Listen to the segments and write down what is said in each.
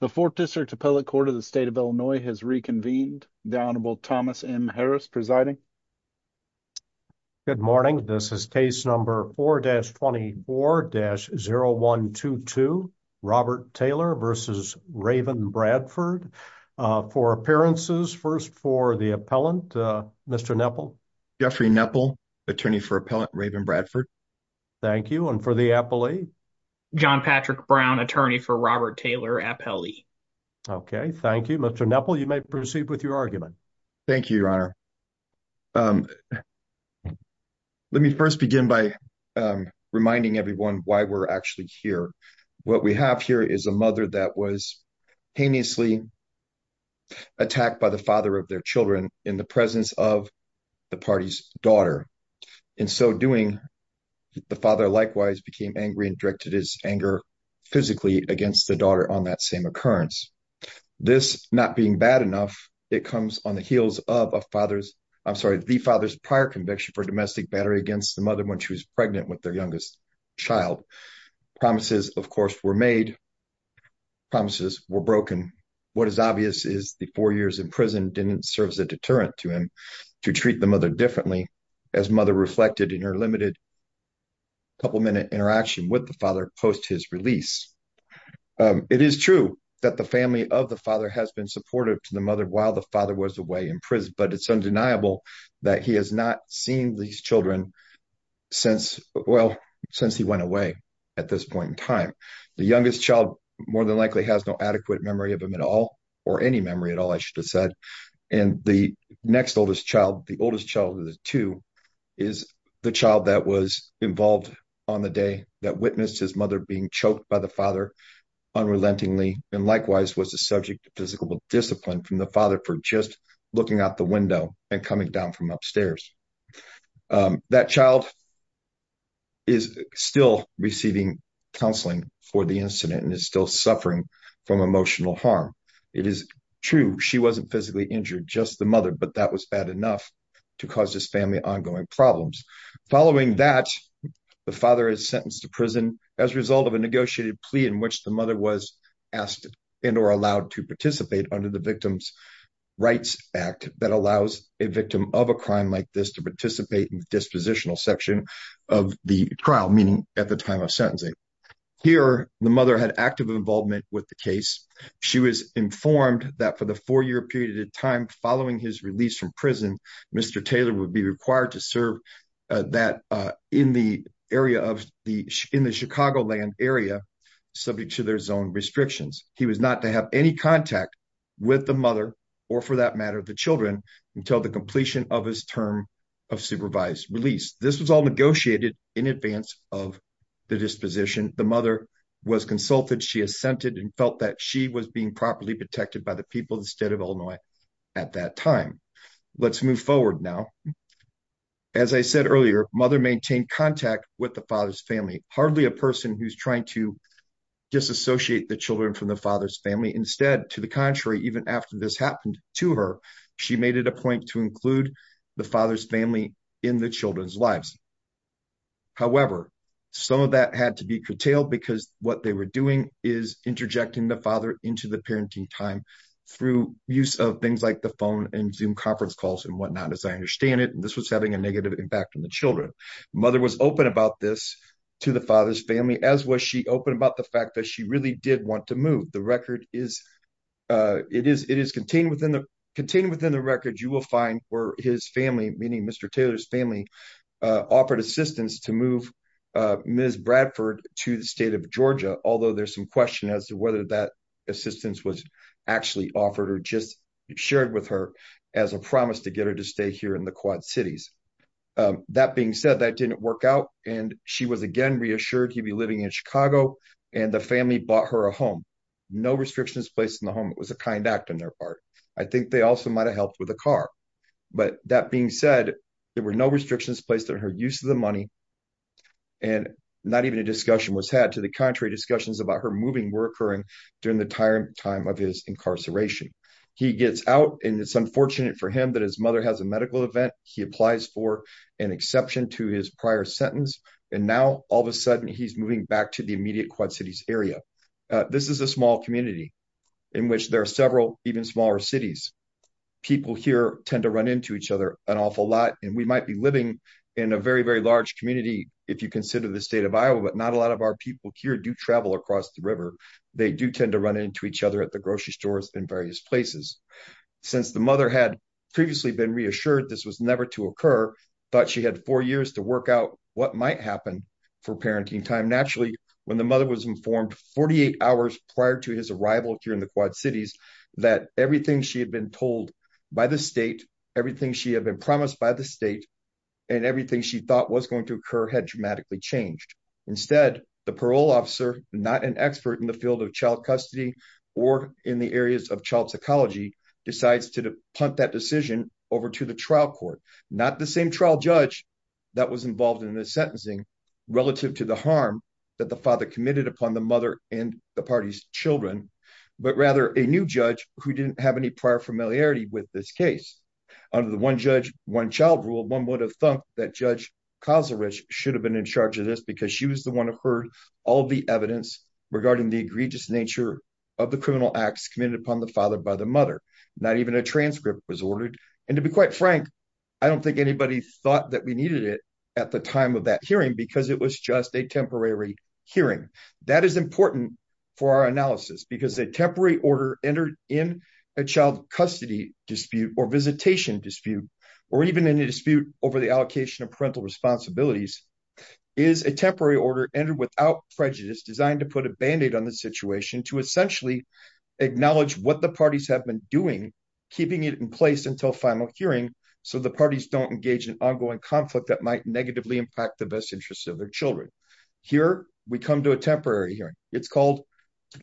the fourth district appellate court of the state of illinois has reconvened the honorable thomas m harris presiding good morning this is case number 4-24-0122 robert taylor versus raven bradford uh for appearances first for the appellant uh mr nepal jeffrey nepal attorney for appellant raven bradford thank you and for the appellee john patrick brown attorney for robert taylor appellee okay thank you mr nepal you may proceed with your argument thank you your honor um let me first begin by reminding everyone why we're actually here what we have here is a mother that was heinously attacked by the father of their children in the presence of the party's daughter in so doing the father likewise became angry and directed his anger physically against the daughter on that same occurrence this not being bad enough it comes on the heels of a father's i'm sorry the father's prior conviction for domestic battery against the mother when she was pregnant with their youngest child promises of course were made promises were broken what is obvious is the four years in prison didn't serve as a deterrent to him to treat the mother differently as mother reflected in her limited couple minute interaction with the father post his release it is true that the family of the father has been supportive to the mother while the father was away in prison but it's undeniable that he has not seen these children since well since he went away at this point in time the youngest child more than likely has no adequate memory of him at all or any memory at all i should and the next oldest child the oldest child of the two is the child that was involved on the day that witnessed his mother being choked by the father unrelentingly and likewise was the subject of physical discipline from the father for just looking out the window and coming down from upstairs that child is still receiving counseling for the incident and is still suffering from emotional harm it is true she wasn't physically injured just the mother but that was bad enough to cause this family ongoing problems following that the father is sentenced to prison as a result of a negotiated plea in which the mother was asked and or allowed to participate under the victim's rights act that allows a victim of a crime like this to participate in the dispositional section of the trial meaning at the time of sentencing here the mother had active involvement with the case she was informed that for the four-year period of time following his release from prison mr taylor would be required to serve uh that uh in the area of the in the chicagoland area subject to their zone restrictions he was not to have any contact with the mother or for that matter the children until the completion of his term of supervised release this was all negotiated in advance of the disposition the mother was consulted she assented and felt that she was being properly protected by the people instead of illinois at that time let's move forward now as i said earlier mother maintained contact with the father's family hardly a person who's trying to disassociate the she made it a point to include the father's family in the children's lives however some of that had to be curtailed because what they were doing is interjecting the father into the parenting time through use of things like the phone and zoom conference calls and whatnot as i understand it this was having a negative impact on the children mother was open about this to the father's family as was she open about the fact that she really did want to move the record is uh it is it is contained contained within the record you will find where his family meeting mr taylor's family offered assistance to move uh ms bradford to the state of georgia although there's some question as to whether that assistance was actually offered or just shared with her as a promise to get her to stay here in the quad cities that being said that didn't work out and she was again reassured he'd be living in chicago and the family bought her a home no restrictions placed in the was a kind act on their part i think they also might have helped with a car but that being said there were no restrictions placed on her use of the money and not even a discussion was had to the contrary discussions about her moving were occurring during the time time of his incarceration he gets out and it's unfortunate for him that his mother has a medical event he applies for an exception to his prior sentence and now all of a sudden he's moving back to the immediate quad area this is a small community in which there are several even smaller cities people here tend to run into each other an awful lot and we might be living in a very very large community if you consider the state of iowa but not a lot of our people here do travel across the river they do tend to run into each other at the grocery stores in various places since the mother had previously been reassured this was never to occur but she had four years to work out what might happen for parenting time naturally when the mother was informed 48 hours prior to his arrival here in the quad cities that everything she had been told by the state everything she had been promised by the state and everything she thought was going to occur had dramatically changed instead the parole officer not an expert in the field of child custody or in the areas of child psychology decides to punt that decision over to the trial court not the same trial judge that was involved in the sentencing relative to the harm that the father committed upon the mother and the party's children but rather a new judge who didn't have any prior familiarity with this case under the one judge one child rule one would have thought that judge kazarich should have been in charge of this because she was the one who heard all the evidence regarding the egregious nature of the criminal acts committed upon the father by mother not even a transcript was ordered and to be quite frank i don't think anybody thought that we needed it at the time of that hearing because it was just a temporary hearing that is important for our analysis because a temporary order entered in a child custody dispute or visitation dispute or even in a dispute over the allocation of parental responsibilities is a temporary order entered without prejudice designed to put a band-aid on the situation to essentially acknowledge what the parties have been doing keeping it in place until final hearing so the parties don't engage in ongoing conflict that might negatively impact the best interests of their children here we come to a temporary hearing it's called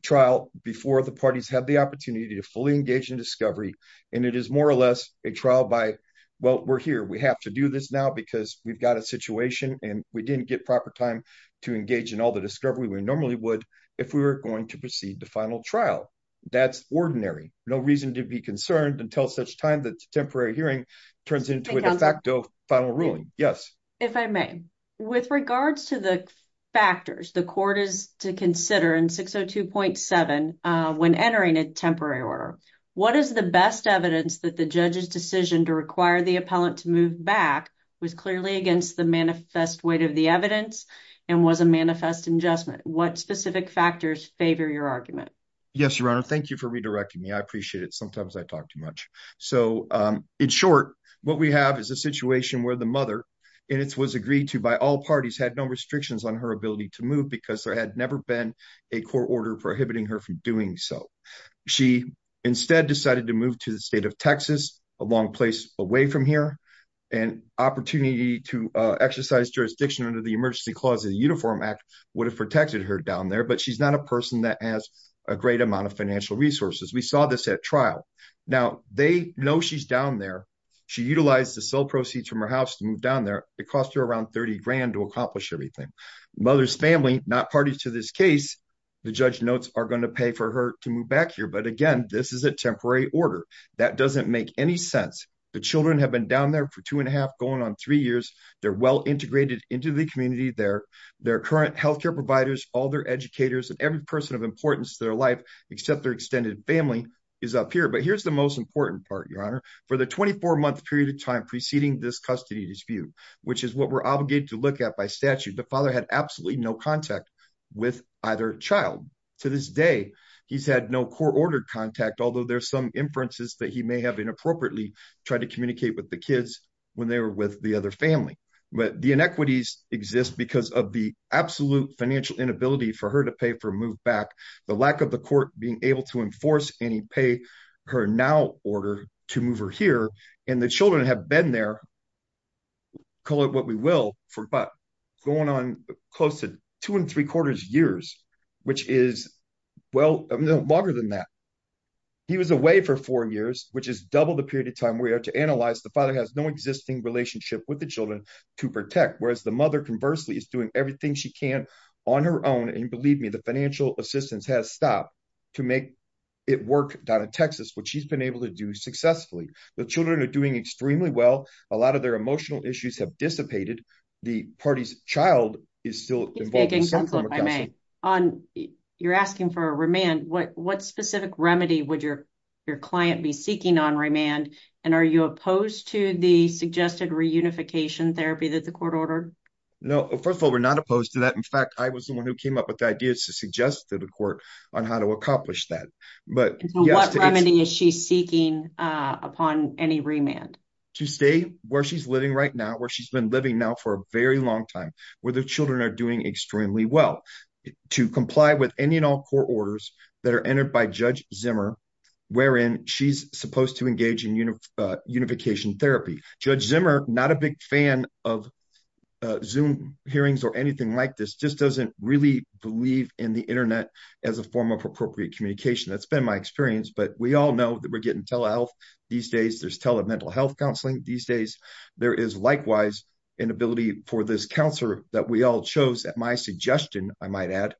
trial before the parties have the opportunity to fully engage in discovery and it is more or less a trial by well we're here we have to do this now because we've got a situation and we didn't get proper time to engage in all the discovery we normally would if we were going to proceed to final trial that's ordinary no reason to be concerned until such time that temporary hearing turns into a de facto final ruling yes if i may with regards to the factors the court is to consider in 602.7 uh when entering a temporary order what is the best evidence that the judge's decision to require the appellant to move back was clearly against the manifest weight of the evidence and was a manifest adjustment what specific factors favor your argument yes your honor thank you for redirecting me i appreciate it sometimes i talk too much so um in short what we have is a situation where the mother and it was agreed to by all parties had no restrictions on her ability to move because there had never been a court order prohibiting her from doing so she instead decided to move to the state of texas a long place away from here and opportunity to exercise jurisdiction under the emergency clause of the uniform act would have protected her down there but she's not a person that has a great amount of financial resources we saw this at trial now they know she's down there she utilized the cell proceeds from her house to move down there it cost her around 30 grand to accomplish everything mother's family not parties to this case the judge notes are going to pay for to move back here but again this is a temporary order that doesn't make any sense the children have been down there for two and a half going on three years they're well integrated into the community they're their current health care providers all their educators and every person of importance to their life except their extended family is up here but here's the most important part your honor for the 24 month period of time preceding this custody dispute which is what we're obligated to look at by statute the father had absolutely no contact with either child to this he's had no court-ordered contact although there's some inferences that he may have inappropriately tried to communicate with the kids when they were with the other family but the inequities exist because of the absolute financial inability for her to pay for move back the lack of the court being able to enforce any pay her now order to move her here and the children have been there call it what we will for but going on close to two and three quarters years which is well no longer than that he was away for four years which is double the period of time we are to analyze the father has no existing relationship with the children to protect whereas the mother conversely is doing everything she can on her own and believe me the financial assistance has stopped to make it work down in texas which she's been able to do successfully the children are doing extremely well a lot of their emotional issues have dissipated the party's child is still i may on you're asking for a remand what what specific remedy would your your client be seeking on remand and are you opposed to the suggested reunification therapy that the court ordered no first of all we're not opposed to that in fact i was the one who came up with the ideas to suggest to the court on how to accomplish that but what remedy is she seeking uh upon any remand to stay where she's living right now where she's been living now for a very long time where the children are doing extremely well to comply with any and all court orders that are entered by judge zimmer wherein she's supposed to engage in unification therapy judge zimmer not a big fan of zoom hearings or anything like this just doesn't really believe in the internet as a form of appropriate communication that's been my experience but we all know that we're getting telehealth these days there's tele mental health counseling these days there is likewise an ability for this counselor that we all chose at my suggestion i might add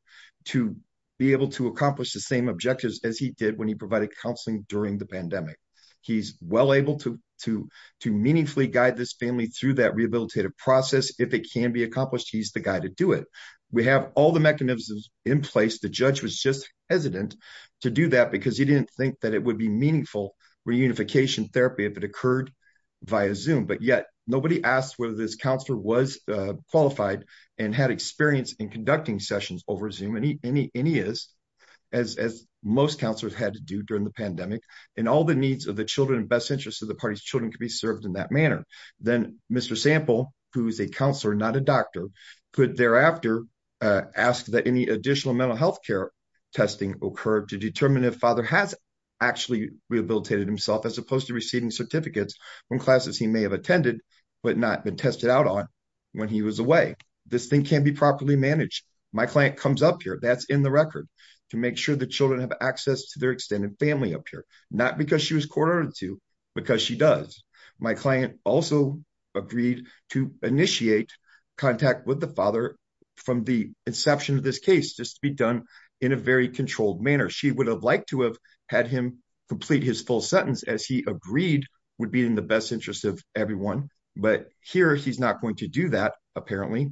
to be able to accomplish the same objectives as he did when he provided counseling during the pandemic he's well able to to to meaningfully guide this family through that rehabilitative process if it can be accomplished he's the guy to do it we have all the mechanisms in place the judge was just hesitant to do that because he didn't think that it would be meaningful reunification therapy if it occurred via zoom but yet nobody asked whether this counselor was qualified and had experience in conducting sessions over zoom any any any is as as most counselors had to do during the pandemic and all the needs of the children best interest of the party's children could be served in that manner then mr sample who is a counselor not a doctor could thereafter uh ask that any additional mental health care testing occur to determine if father has actually rehabilitated himself as opposed to from classes he may have attended but not been tested out on when he was away this thing can't be properly managed my client comes up here that's in the record to make sure the children have access to their extended family up here not because she was quartered to because she does my client also agreed to initiate contact with the father from the inception of this case just to be done in a very controlled manner she would have liked to have had him complete his full sentence as he agreed would be in the best interest of everyone but here he's not going to do that apparently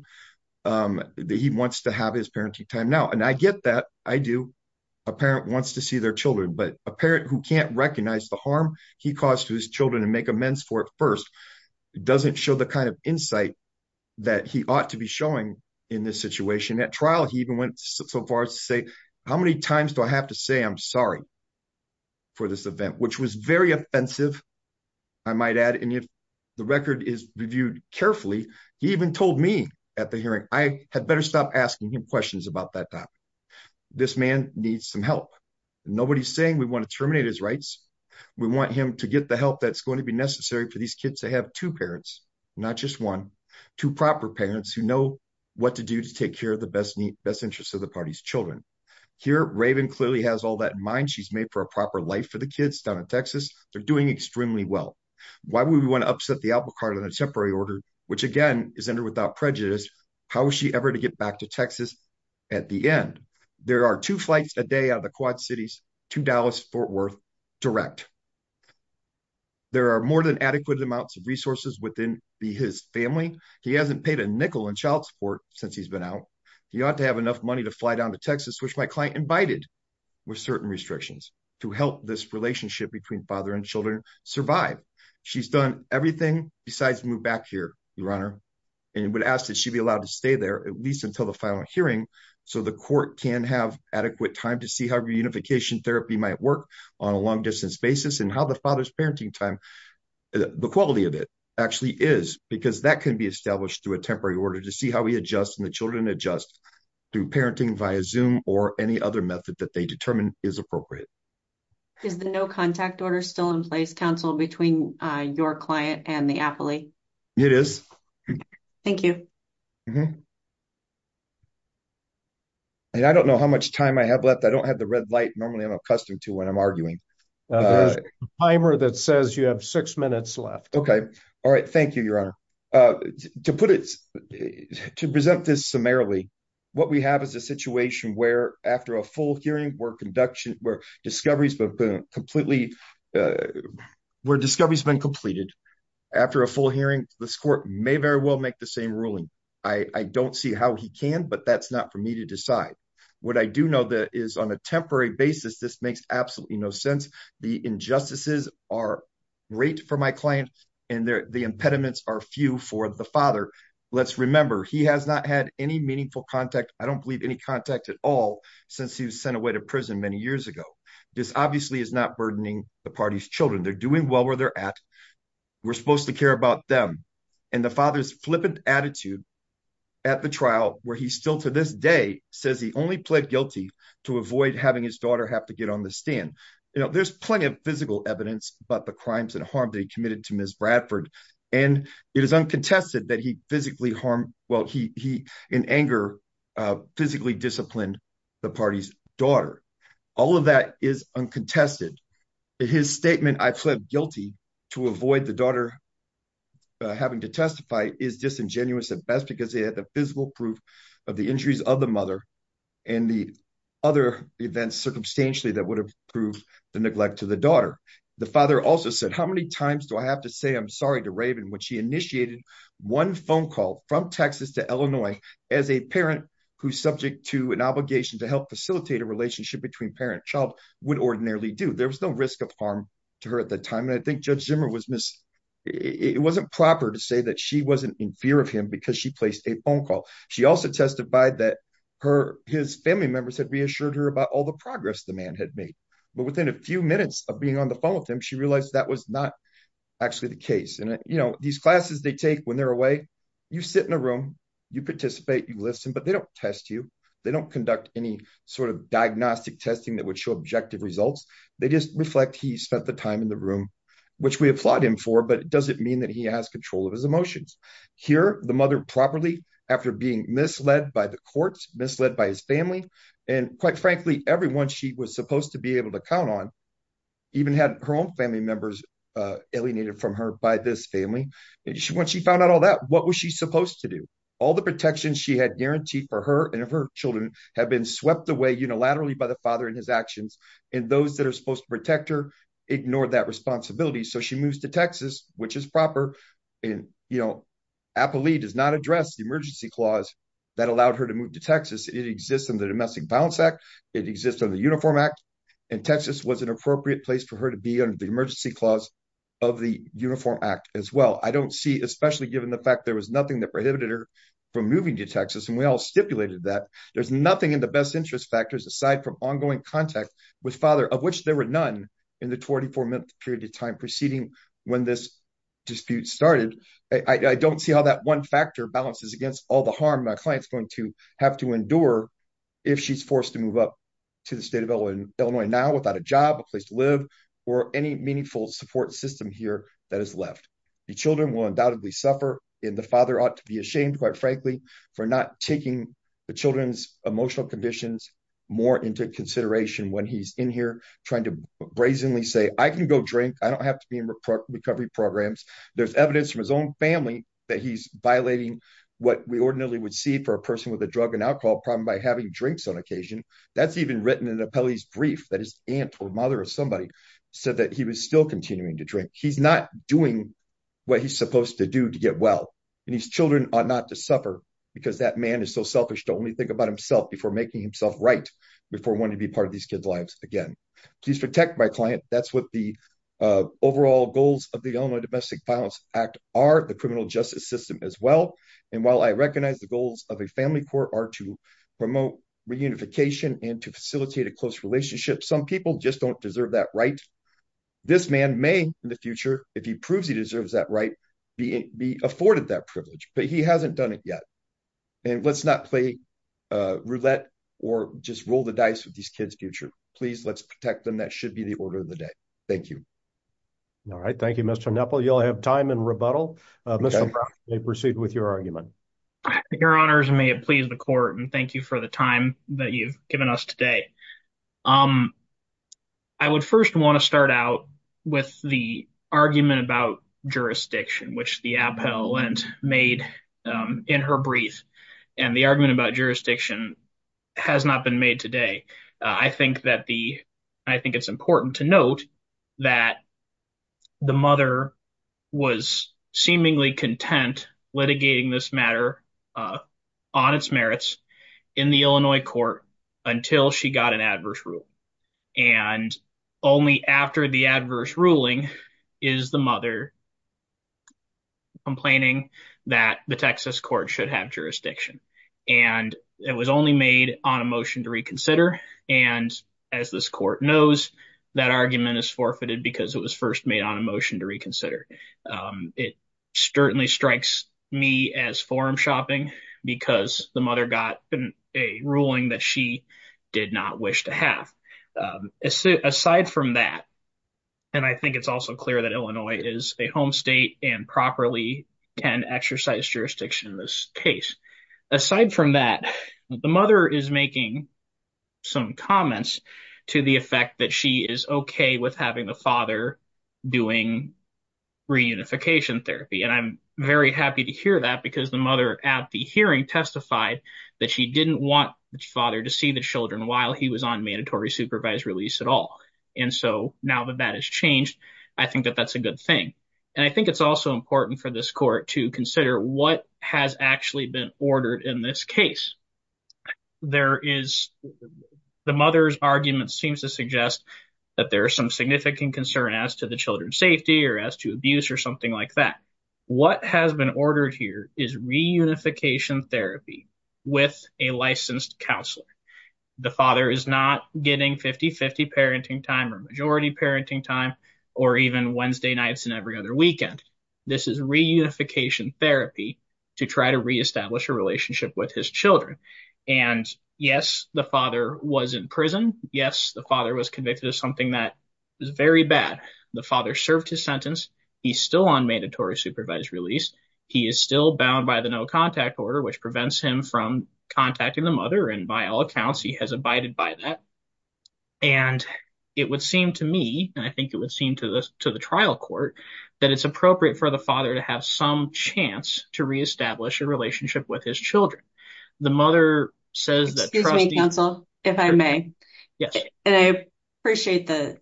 um he wants to have his parenting time now and i get that i do a parent wants to see their children but a parent who can't recognize the harm he caused to his children and make amends for it first doesn't show the kind of insight that he ought to be showing in this situation at trial he even went so far as to say how many times do i have to say i'm sorry for this event which was very offensive i might add and if the record is reviewed carefully he even told me at the hearing i had better stop asking him questions about that time this man needs some help nobody's saying we want to terminate his rights we want him to get the help that's going to be necessary for these kids to have two parents not just one two proper parents who know what to do to take care of the best best interest of the party's children here raven clearly has all that in mind she's made a proper life for the kids down in texas they're doing extremely well why would we want to upset the apple cart on a temporary order which again is entered without prejudice how is she ever to get back to texas at the end there are two flights a day out of the quad cities to dallas fort worth direct there are more than adequate amounts of resources within his family he hasn't paid a nickel in child support since he's been out he ought to have enough money to fly down to texas which my client invited with certain restrictions to help this relationship between father and children survive she's done everything besides move back here your honor and would ask that she be allowed to stay there at least until the final hearing so the court can have adequate time to see how reunification therapy might work on a long distance basis and how the father's parenting time the quality of it actually is because that can be established through a temporary order to we adjust and the children adjust through parenting via zoom or any other method that they determine is appropriate is the no contact order still in place counsel between your client and the appellee it is thank you and i don't know how much time i have left i don't have the red light normally i'm accustomed to when i'm arguing there's a timer that says you have six minutes left okay all right thank you your honor uh to put it to present this summarily what we have is a situation where after a full hearing where conduction where discoveries have been completely uh where discovery has been completed after a full hearing this court may very well make the same ruling i i don't see how he can but that's not for me to decide what i do know that is on a temporary basis this makes absolutely no sense the injustices are great for my client and the impediments are few for the father let's remember he has not had any meaningful contact i don't believe any contact at all since he was sent away to prison many years ago this obviously is not burdening the party's children they're doing well where they're at we're supposed to care about them and the father's flippant attitude at the trial where he's still to this day says he only pled guilty to avoid having his daughter have to get on the stand you know there's plenty of physical evidence about the crimes and harm that he committed to miss bradford and it is uncontested that he physically harmed well he he in anger uh physically disciplined the party's daughter all of that is uncontested his statement i pled guilty to avoid the daughter having to testify is disingenuous at best because they had the physical proof of the injuries of the mother and the other events circumstantially that would have proved the neglect to the daughter the father also said how many times do i have to say i'm sorry to raven when she initiated one phone call from texas to illinois as a parent who's subject to an obligation to help facilitate a relationship between parent child would ordinarily do there was no risk of harm to her at the time and i think judge zimmer was miss it wasn't proper to say that she wasn't in fear of him because she placed a phone call she also testified that her his family members had reassured her about all the progress the man had made but within a few minutes of being on the phone with him she realized that was not actually the case and you know these classes they take when they're away you sit in a room you participate you listen but they don't test you they don't conduct any sort of diagnostic testing that would show objective results they just reflect he spent the time in the room which we applaud him for but it doesn't mean that he has control of his emotions here the mother properly after being misled by the courts misled by his family and quite frankly everyone she was supposed to be able to count on even had her own family members uh alienated from her by this family and when she found out all that what was she supposed to do all the protections she had guaranteed for her and her children have been swept away unilaterally by the father and his actions and those that are supposed to protect her ignored that responsibility so she moves to texas which is proper and you know appley does not address the emergency clause that allowed her to move to texas it exists in the domestic violence act it exists on the uniform act and texas was an appropriate place for her to be under the emergency clause of the uniform act as well i don't see especially given the fact there was nothing that prohibited her from moving to texas and we all stipulated that there's nothing in the best interest factors aside from ongoing contact with father of which there were none in the 24-month period of time preceding when this dispute started i don't see how that one factor balances against all the harm my client's going to have to endure if she's forced to move up to the state of illinois now without a job a place to live or any meaningful support system here that is left the children will undoubtedly suffer and the father ought to be ashamed quite frankly for not taking the children's emotional conditions more into consideration when he's in here trying to brazenly say i can go drink i don't have to be in recovery programs there's evidence from his own family that he's violating what we ordinarily would see for a person with a drug and alcohol problem by having drinks on occasion that's even written in the peli's brief that his aunt or mother or somebody said that he was still continuing to drink he's not doing what he's supposed to do to get well and his children are to suffer because that man is so selfish to only think about himself before making himself right before wanting to be part of these kids lives again please protect my client that's what the overall goals of the illinois domestic violence act are the criminal justice system as well and while i recognize the goals of a family court are to promote reunification and to facilitate a close relationship some people just don't deserve that right this man may in the future if he proves he deserves that right be afforded that privilege but he hasn't done it yet and let's not play roulette or just roll the dice with these kids future please let's protect them that should be the order of the day thank you all right thank you mr nepal you'll have time and rebuttal may proceed with your argument your honors may it please the court and thank you for the time that you've given us today um i would first want to start out with the argument about jurisdiction which the appellant made um in her brief and the argument about jurisdiction has not been made today i think that the i think it's important to note that the mother was seemingly content litigating this matter uh on its merits in the illinois court until she got an adverse rule and only after the adverse ruling is the mother complaining that the texas court should have jurisdiction and it was only made on a motion to reconsider and as this court knows that argument is forfeited because it was first made on a motion to reconsider it certainly strikes me as forum shopping because the mother got a ruling that she did not wish to have aside from that and i think it's also clear that illinois is a home state and properly can exercise jurisdiction in this case aside from that the mother is making some comments to the effect that she is okay with having the father doing reunification therapy and i'm very happy to hear that because the mother at the hearing testified that she didn't want the father to see the children while he was on mandatory supervised release at all and so now that that has changed i think that that's a good thing and i think it's also important for this court to consider what has actually been ordered in this case there is the mother's argument seems to suggest that there is some significant concern as to the children's safety or as to abuse or something like that what has been ordered here is reunification therapy with a licensed counselor the father is not getting 50 50 parenting time or majority parenting time or even wednesday nights and every other weekend this is reunification therapy to try to re-establish a relationship with his children and yes the father was in prison yes the father was convicted of something that was very bad the father served his sentence he's still on mandatory supervised release he is still bound by the no contact order which prevents him from contacting the mother and by all accounts he has abided by that and it would seem to me and i think it would seem to the to the trial court that it's appropriate for the father to have some chance to re-establish a relationship with his children the mother says excuse me counsel if i may yes and i appreciate the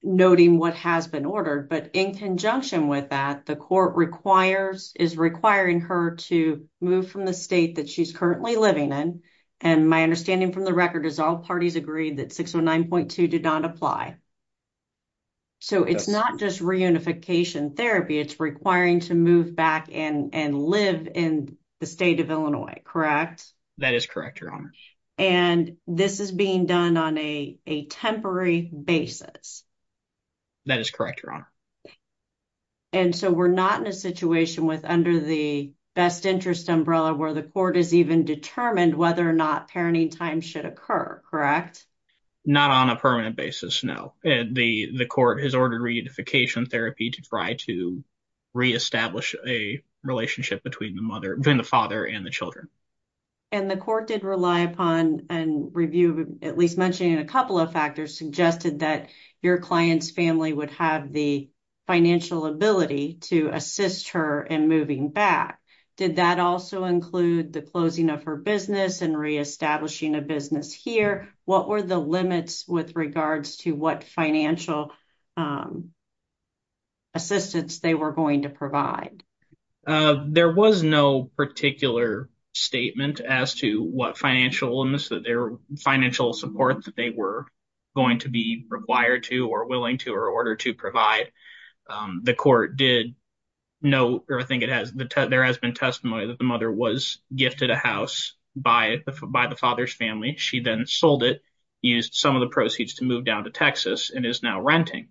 noting what has been ordered but in conjunction with that the court requires is requiring her to move from the state that she's currently living in and my understanding from the record is all parties agreed that 609.2 did not apply so it's not just reunification therapy it's requiring to move back in and live in the state of illinois correct that is correct your honor and this is being done on a a temporary basis that is correct your honor and so we're not in a situation with under the best interest umbrella where the court has even determined whether or not parenting time should occur correct not on a permanent basis no and the the court has ordered reunification therapy to try to re-establish a relationship between the mother between the father and the children and the court did rely upon and review at least mentioning a couple of factors suggested that your client's family would have the financial ability to assist her in moving back did that also include the of her business and re-establishing a business here what were the limits with regards to what financial assistance they were going to provide there was no particular statement as to what financial limits that their financial support that they were going to be required to or willing to or order to provide the court did no or i think it has the there has been testimony that the mother was gifted a house by the father's family she then sold it used some of the proceeds to move down to texas and is now renting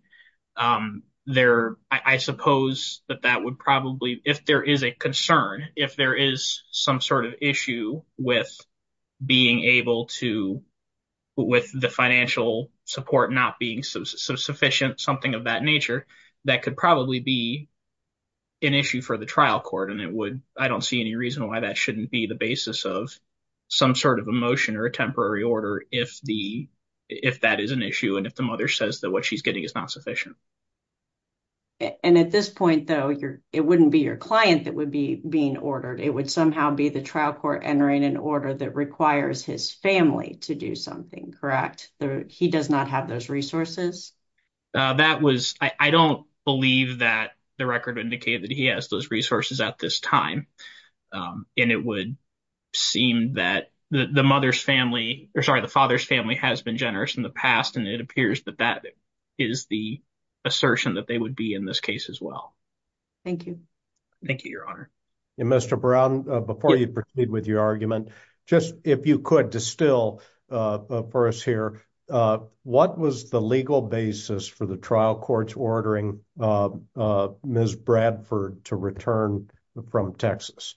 there i suppose that that would probably if there is a concern if there is some sort of issue with being able to with the financial support not being sufficient something of that nature that could probably be an issue for the trial court and it i don't see any reason why that shouldn't be the basis of some sort of emotion or a temporary order if the if that is an issue and if the mother says that what she's getting is not sufficient and at this point though your it wouldn't be your client that would be being ordered it would somehow be the trial court entering an order that requires his family to do something correct there he does not have those resources that was i don't believe that the record indicated that he has those resources at this time and it would seem that the mother's family or sorry the father's family has been generous in the past and it appears that that is the assertion that they would be in this case as well thank you thank you your honor and mr brown before you proceed with your argument just if you could distill uh for us here uh what was the legal basis for the return from texas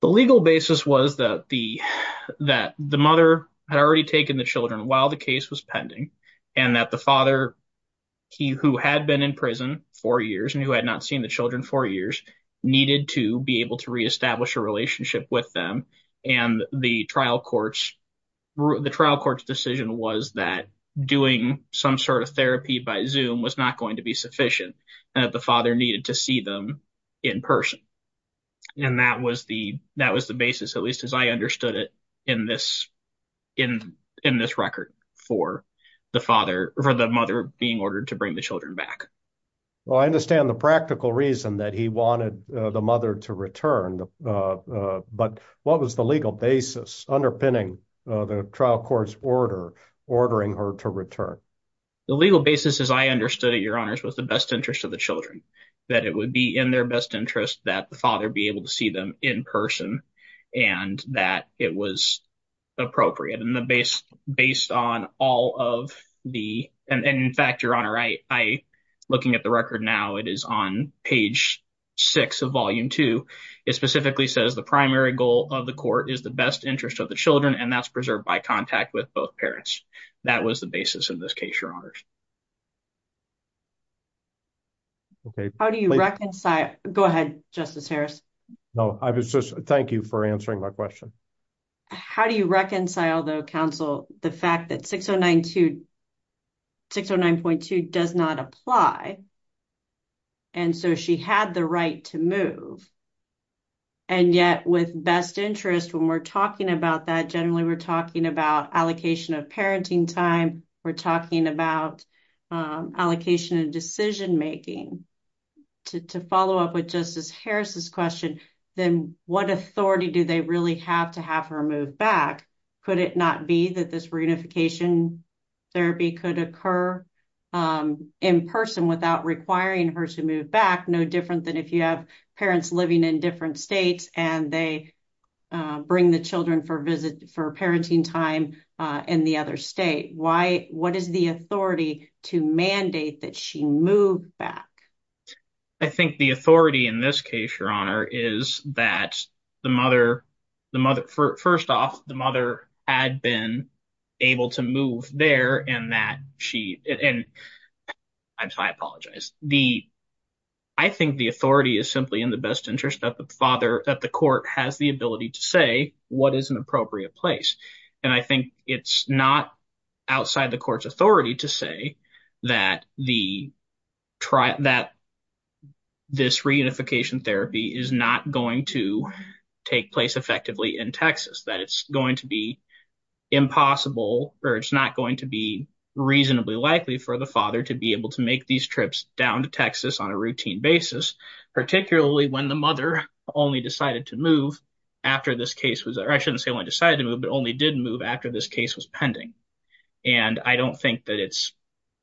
the legal basis was that the that the mother had already taken the children while the case was pending and that the father he who had been in prison for years and who had not seen the children for years needed to be able to re-establish a relationship with them and the trial courts the trial court's decision was that doing some sort of therapy by zoom was not going to be sufficient and that the father needed to see them in person and that was the that was the basis at least as i understood it in this in in this record for the father for the mother being ordered to bring the children back well i understand the practical reason that he wanted the mother to return uh but what was the legal basis underpinning uh the trial court's ordering her to return the legal basis as i understood it your honors was the best interest of the children that it would be in their best interest that the father be able to see them in person and that it was appropriate and the base based on all of the and in fact your honor i i looking at the record now it is on page six of volume two it specifically says the primary goal of the court is the best interest of the children and that's preserved by contact with both parents that was the basis of this case your honors okay how do you reconcile go ahead justice harris no i was just thank you for answering my question how do you reconcile the council the fact that 609 to 609.2 does not apply and so she had the right to move and yet with best interest when we're talking about that generally we're talking about allocation of parenting time we're talking about allocation and decision making to follow up with justice harris's question then what authority do they really have to have her move back could it not be that this reunification therapy could occur in person without requiring her to in different states and they bring the children for visit for parenting time in the other state why what is the authority to mandate that she moved back i think the authority in this case your honor is that the mother the mother first off the mother had been able to move there and that she and i apologize the i think the authority is simply in the best interest of the father that the court has the ability to say what is an appropriate place and i think it's not outside the court's authority to say that the trial that this reunification therapy is not going to take place effectively in texas that it's going to be impossible or it's not going to be reasonably likely for the father to be able to make these trips down to texas on a routine basis particularly when the mother only decided to move after this case was i shouldn't say when i decided to move but only did move after this case was pending and i don't think that it's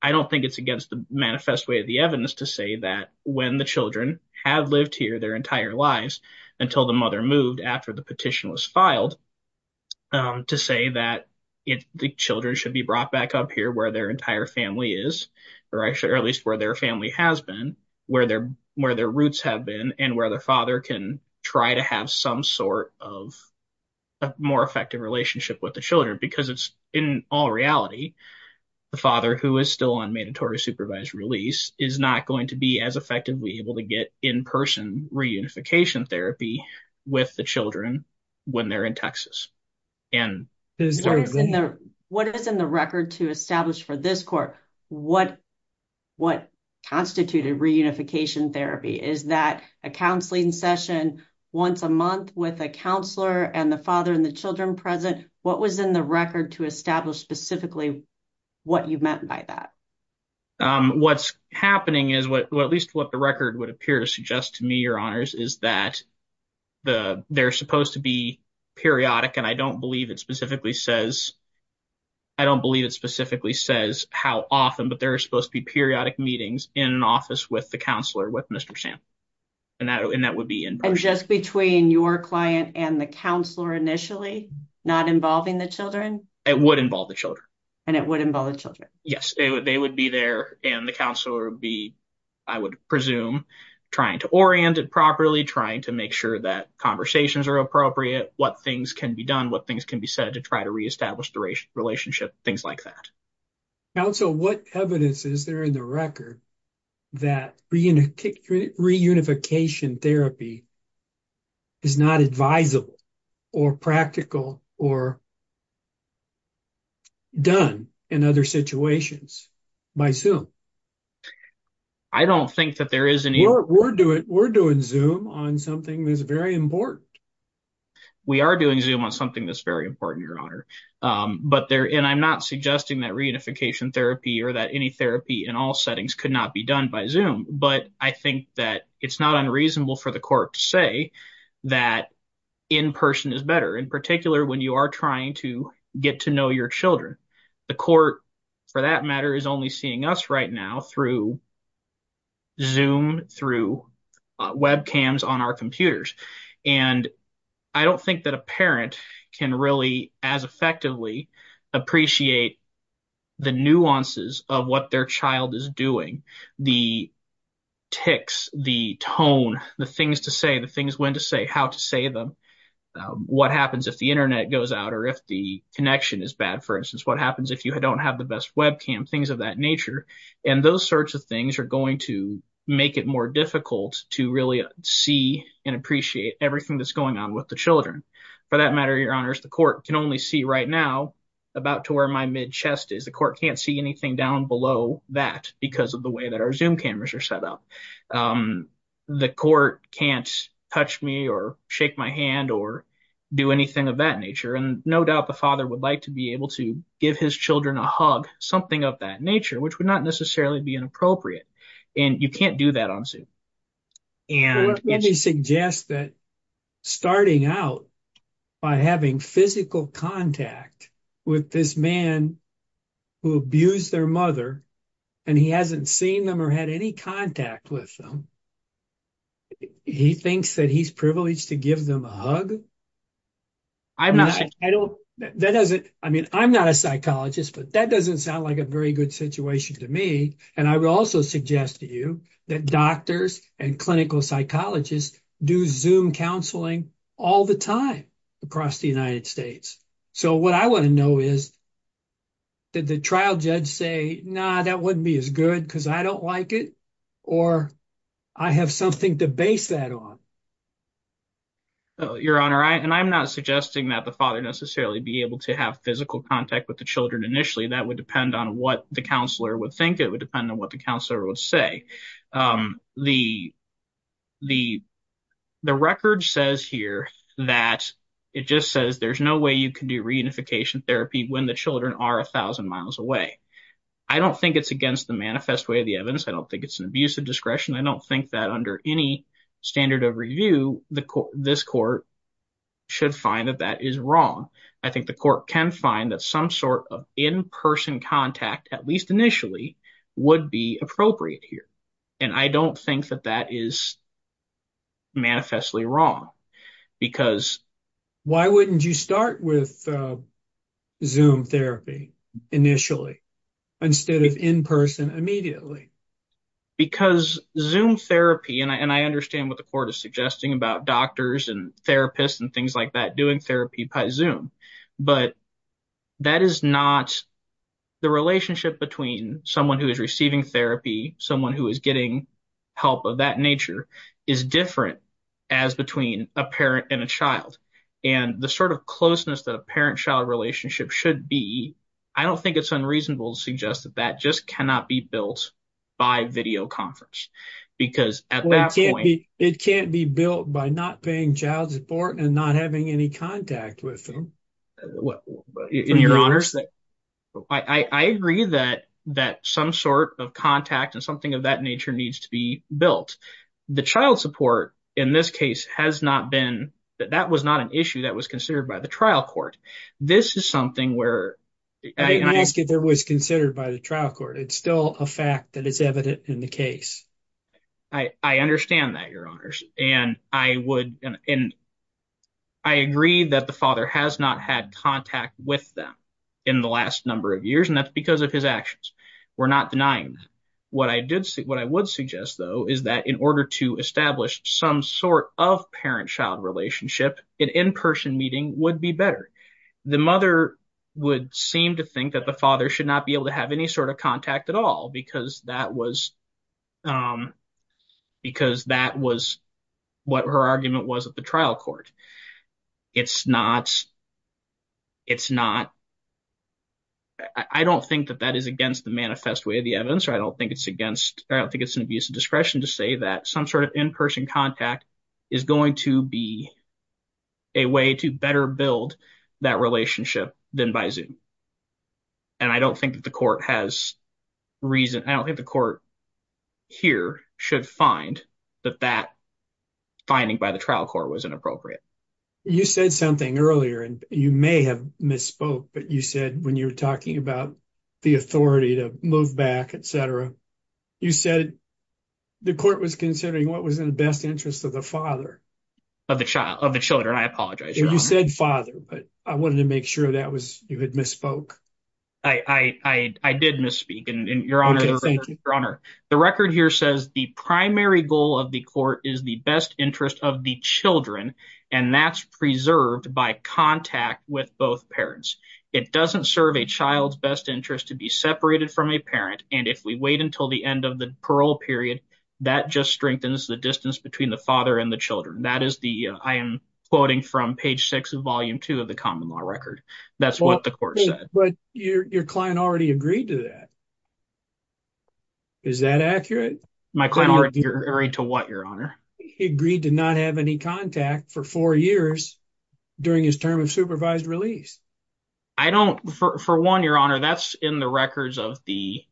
i don't think it's against the manifest way of the evidence to say that when the children have lived here their entire lives until the mother moved after the petition was filed um to say that if the children should be brought back up here where their entire family is or actually at least where their family has been where their where their roots have been and where their father can try to have some sort of a more effective relationship with the children because it's in all reality the father who is still on mandatory supervised release is not going to be effectively able to get in-person reunification therapy with the children when they're in texas and what is in the record to establish for this court what what constituted reunification therapy is that a counseling session once a month with a counselor and the father and the children present what was in the record to establish specifically what you meant by that um what's happening is what at least what the record would appear to suggest to me your honors is that the they're supposed to be periodic and i don't believe it specifically says i don't believe it specifically says how often but there are supposed to be periodic meetings in an office with the counselor with mr sam and that and that would be in just between your client and the counselor initially not involving the children it would involve the and it would involve the children yes they would they would be there and the counselor would be i would presume trying to orient it properly trying to make sure that conversations are appropriate what things can be done what things can be said to try to re-establish the relationship things like that now so what evidence is there in the record that reunification therapy is not advisable or practical or done in other situations by zoom i don't think that there is any we're doing we're doing zoom on something that's very important we are doing zoom on something that's very important your honor but there and i'm not suggesting that reunification therapy or that any therapy in all settings could not be done by zoom but i think that it's not unreasonable for the court to say that in person is better in particular when you are trying to get to know your children the court for that matter is only seeing us right now through zoom through webcams on our computers and i don't think that can really as effectively appreciate the nuances of what their child is doing the ticks the tone the things to say the things when to say how to say them what happens if the internet goes out or if the connection is bad for instance what happens if you don't have the best webcam things of that nature and those sorts of things are going to make it more difficult to really see and appreciate everything that's going on with the children for that matter your honors the court can only see right now about to where my mid chest is the court can't see anything down below that because of the way that our zoom cameras are set up the court can't touch me or shake my hand or do anything of that nature and no doubt the father would like to be able to give his children a hug something of that nature which would not necessarily be inappropriate and you can't do that on zoom and they suggest that starting out by having physical contact with this man who abused their mother and he hasn't seen them or had any contact with them he thinks that he's privileged to give them a hug i'm not i don't that doesn't i mean i'm not a suggest to you that doctors and clinical psychologists do zoom counseling all the time across the united states so what i want to know is did the trial judge say nah that wouldn't be as good because i don't like it or i have something to base that on your honor i and i'm not suggesting that the father necessarily be able to have physical contact with the children initially that would depend on what the counselor would think it would depend on what the counselor would say um the the the record says here that it just says there's no way you can do reunification therapy when the children are a thousand miles away i don't think it's against the manifest way of the evidence i don't think it's an abusive discretion i don't think that under any standard of review the court this court should find that that is wrong i think the court can find that some sort of in-person contact at least initially would be appropriate here and i don't think that that is manifestly wrong because why wouldn't you start with zoom therapy initially instead of in person immediately because zoom therapy and i and i understand what the court is suggesting about doctors and therapists and things like that zoom but that is not the relationship between someone who is receiving therapy someone who is getting help of that nature is different as between a parent and a child and the sort of closeness that a parent-child relationship should be i don't think it's unreasonable to suggest that that just cannot be built by video conference because at that point it can't be built by not being child support and not having any contact with them what in your honors that i i agree that that some sort of contact and something of that nature needs to be built the child support in this case has not been that that was not an issue that was considered by the trial court this is something where i ask if there was considered by the trial court it's still a that is evident in the case i i understand that your honors and i would and i agree that the father has not had contact with them in the last number of years and that's because of his actions we're not denying that what i did see what i would suggest though is that in order to establish some sort of parent-child relationship an in-person meeting would be better the mother would seem to think that the father should not be able to have any sort of contact at all because that was um because that was what her argument was at the trial court it's not it's not i don't think that that is against the manifest way of the evidence or i don't think it's against i don't think it's an abuse of discretion to say that some sort of in-person contact is going to be a way to better build that relationship than by zoom and i don't think that the court has reason i don't think the court here should find that that finding by the trial court was inappropriate you said something earlier and you may have misspoke but you said when you were talking about the authority to move back etc you said the court was considering what was best interest of the father of the child of the children i apologize you said father but i wanted to make sure that was you had misspoke i i i did misspeak and your honor your honor the record here says the primary goal of the court is the best interest of the children and that's preserved by contact with both parents it doesn't serve a child's best interest to be separated from a and if we wait until the end of the parole period that just strengthens the distance between the father and the children that is the i am quoting from page six of volume two of the common law record that's what the court said but your client already agreed to that is that accurate my client already to what your honor he agreed to not have any contact for four years during his term of supervised release i don't for for one your honor that's in the records of the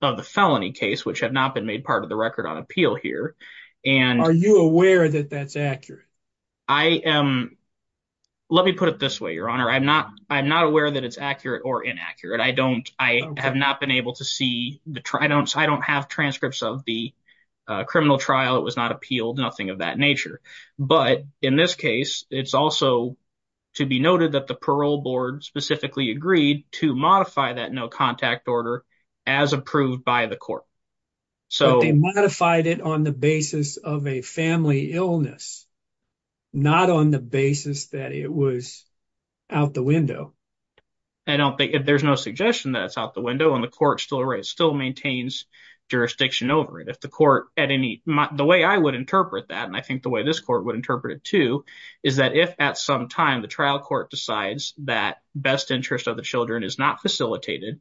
of the felony case which have not been made part of the record on appeal here and are you aware that that's accurate i am let me put it this way your honor i'm not i'm not aware that it's accurate or inaccurate i don't i have not been able to see the i don't i don't have transcripts of the uh criminal trial it was not appealed nothing of that nature but in this case it's also to be noted that the parole board specifically agreed to modify that no contact order as approved by the court so they modified it on the basis of a family illness not on the basis that it was out the window i don't think if there's no suggestion that it's out the window and the court still raised still maintains jurisdiction over it if the court at any the way i would interpret that and i think the way this court would interpret it too is that if at some time the trial court decides that best interest of the children is not facilitated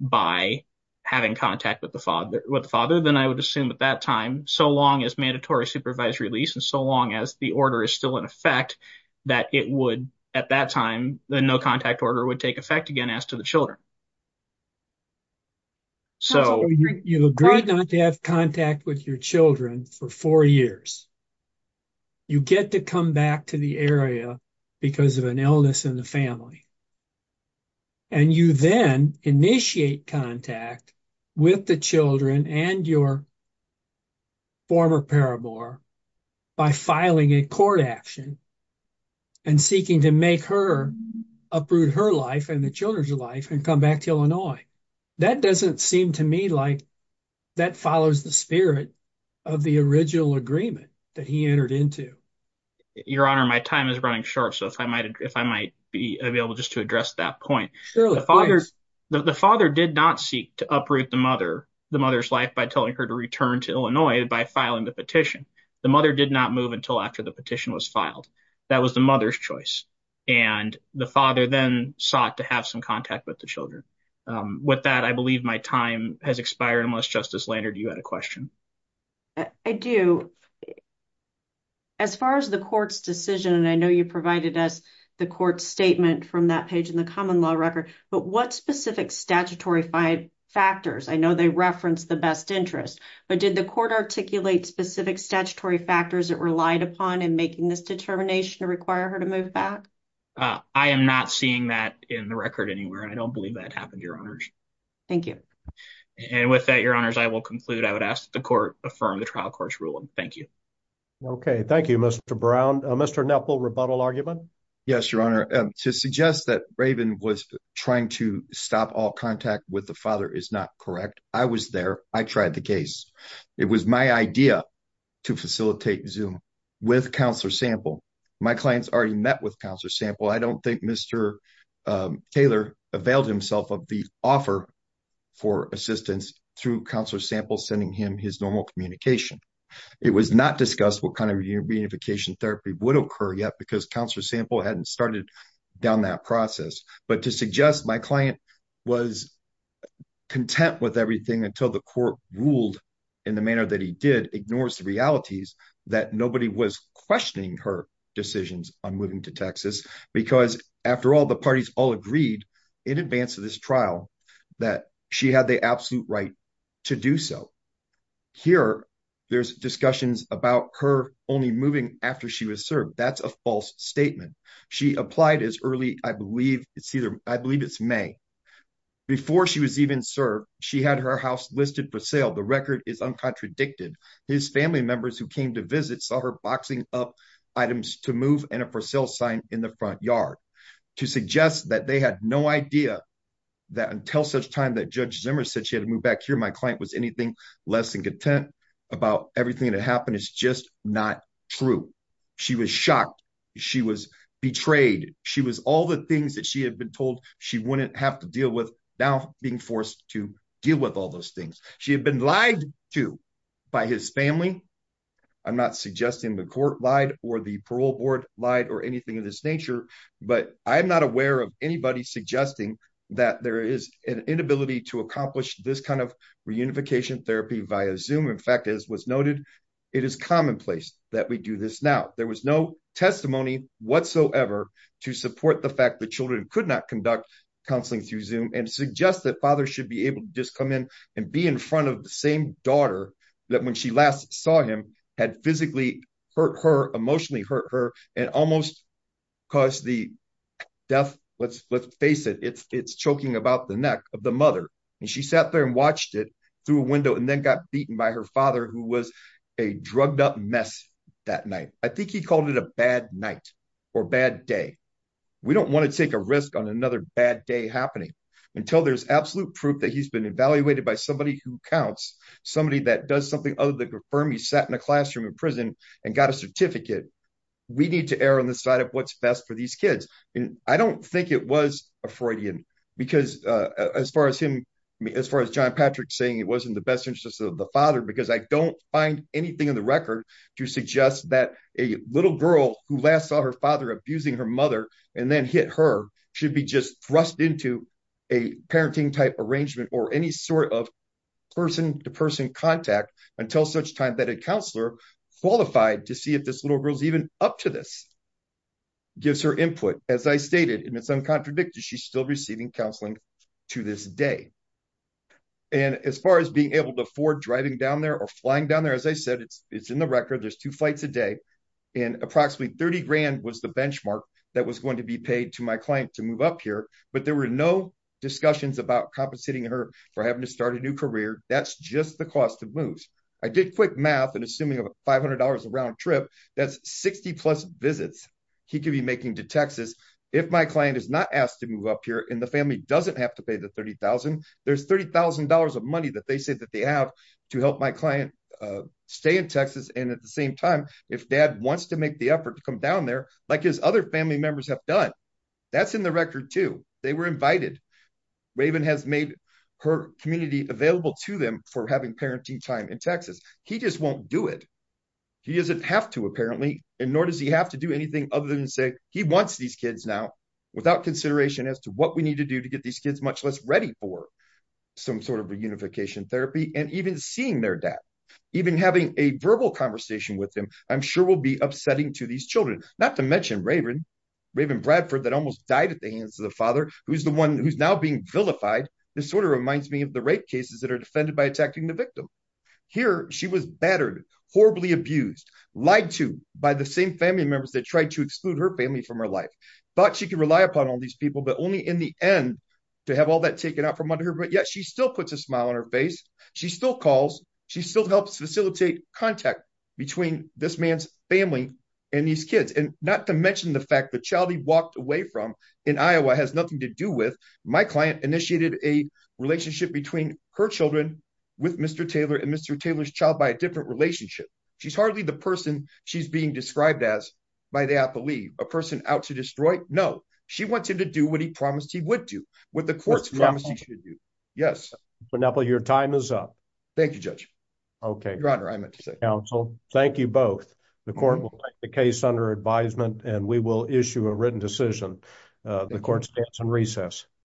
by having contact with the father with the father then i would assume at that time so long as mandatory supervised release and so long as the order is still in effect that it would at that time the no contact order would take effect again as to the children so you've agreed not to have contact with your children for four years you get to come back to the area because of an illness in the family and you then initiate contact with the children and your former paramour by filing a court action and seeking to make her uproot her life and the back to illinois that doesn't seem to me like that follows the spirit of the original agreement that he entered into your honor my time is running short so if i might if i might be available just to address that point the father the father did not seek to uproot the mother the mother's life by telling her to return to illinois by filing the petition the mother did not move until after the petition was filed that was the mother's choice and the father then sought to have some contact with the children with that i believe my time has expired unless justice lander do you had a question i do as far as the court's decision and i know you provided us the court statement from that page in the common law record but what specific statutory five factors i know they reference the best interest but did the court articulate specific statutory factors that relied upon in making this determination to require her to move back uh i am not seeing that in the record anywhere i don't believe that happened your honors thank you and with that your honors i will conclude i would ask the court affirm the trial court's ruling thank you okay thank you mr brown mr nepal rebuttal argument yes your honor to suggest that raven was trying to stop all contact with the father is not correct i was there i tried the case it was my idea to facilitate zoom with counselor sample my clients already met i don't think mr taylor availed himself of the offer for assistance through counselor sample sending him his normal communication it was not discussed what kind of reunification therapy would occur yet because counselor sample hadn't started down that process but to suggest my client was content with everything until the court ruled in the manner that he did ignores the realities that nobody was questioning her decisions on moving to texas because after all the parties all agreed in advance of this trial that she had the absolute right to do so here there's discussions about her only moving after she was served that's a false statement she applied as early i believe it's either i believe it's may before she was even served she had her house listed for sale the record is uncontradicted his family members who came to visit saw her boxing up items to move and a for sale sign in the front yard to suggest that they had no idea that until such time that judge zimmer said she had to move back here my client was anything less than content about everything that happened it's just not true she was shocked she was betrayed she was all the things that she had been told she wouldn't have to deal with now being forced to deal with all those things she had been lied to by his family i'm not suggesting the court lied or the parole board lied or anything of this nature but i'm not aware of anybody suggesting that there is an inability to accomplish this kind of reunification therapy via zoom in fact as was noted it is commonplace that we do this now there was no testimony whatsoever to support the fact that children could not conduct counseling through zoom and suggest that father should be able to come in and be in front of the same daughter that when she last saw him had physically hurt her emotionally hurt her and almost caused the death let's let's face it it's it's choking about the neck of the mother and she sat there and watched it through a window and then got beaten by her father who was a drugged up mess that night i think he called it a bad night or bad day we don't want to take a risk on another bad day happening until there's absolute proof that he's been evaluated by somebody who counts somebody that does something other than confirm he sat in a classroom in prison and got a certificate we need to err on the side of what's best for these kids and i don't think it was a freudian because uh as far as him as far as john patrick saying it wasn't the best interest of the father because i don't find anything in the record to suggest that a little girl who last saw her father abusing her mother and then hit her should be just thrust into a parenting type arrangement or any sort of person-to-person contact until such time that a counselor qualified to see if this little girl's even up to this gives her input as i stated and it's uncontradicted she's still receiving counseling to this day and as far as being able to afford driving down there or flying down there as i said it's it's in the record there's two flights a day and approximately 30 grand was the benchmark that was going to be paid to my client to move up here but there were no discussions about compensating her for having to start a new career that's just the cost of moves i did quick math and assuming about 500 a round trip that's 60 plus visits he could be making to texas if my client is not asked to move up here and the family doesn't have to pay the 30 000 there's 30 000 of money that they said that they have to help my client uh stay in texas and at the same time if dad wants to make the effort to come down there like his other family members have done that's in the record too they were invited raven has made her community available to them for having parenting time in texas he just won't do it he doesn't have to apparently and nor does he have to do anything other than say he wants these kids now without consideration as to what we need to do to get these kids much less ready for some sort of reunification therapy and even seeing their dad even having a verbal conversation with him i'm sure will be upsetting to these children not to mention raven raven bradford that almost died at the hands of the father who's the one who's now being vilified this sort of reminds me of the rape cases that are defended by attacking the victim here she was battered horribly abused lied to by the same family members that tried to exclude her family from her life but she could rely upon all these people but only in the end to have all that taken out from under her but yet she still puts a smile on her face she still calls she still helps facilitate contact between this man's family and these kids and not to mention the fact that child he walked away from in iowa has nothing to do with my client initiated a relationship between her children with mr taylor and mr taylor's child by a different relationship she's hardly the person she's being described as by the athlete a person out to destroy no she wanted to do what he promised he would do what the courts promised he should do but now your time is up thank you judge okay your honor i meant to say counsel thank you both the court will take the case under advisement and we will issue a written decision the court stands on recess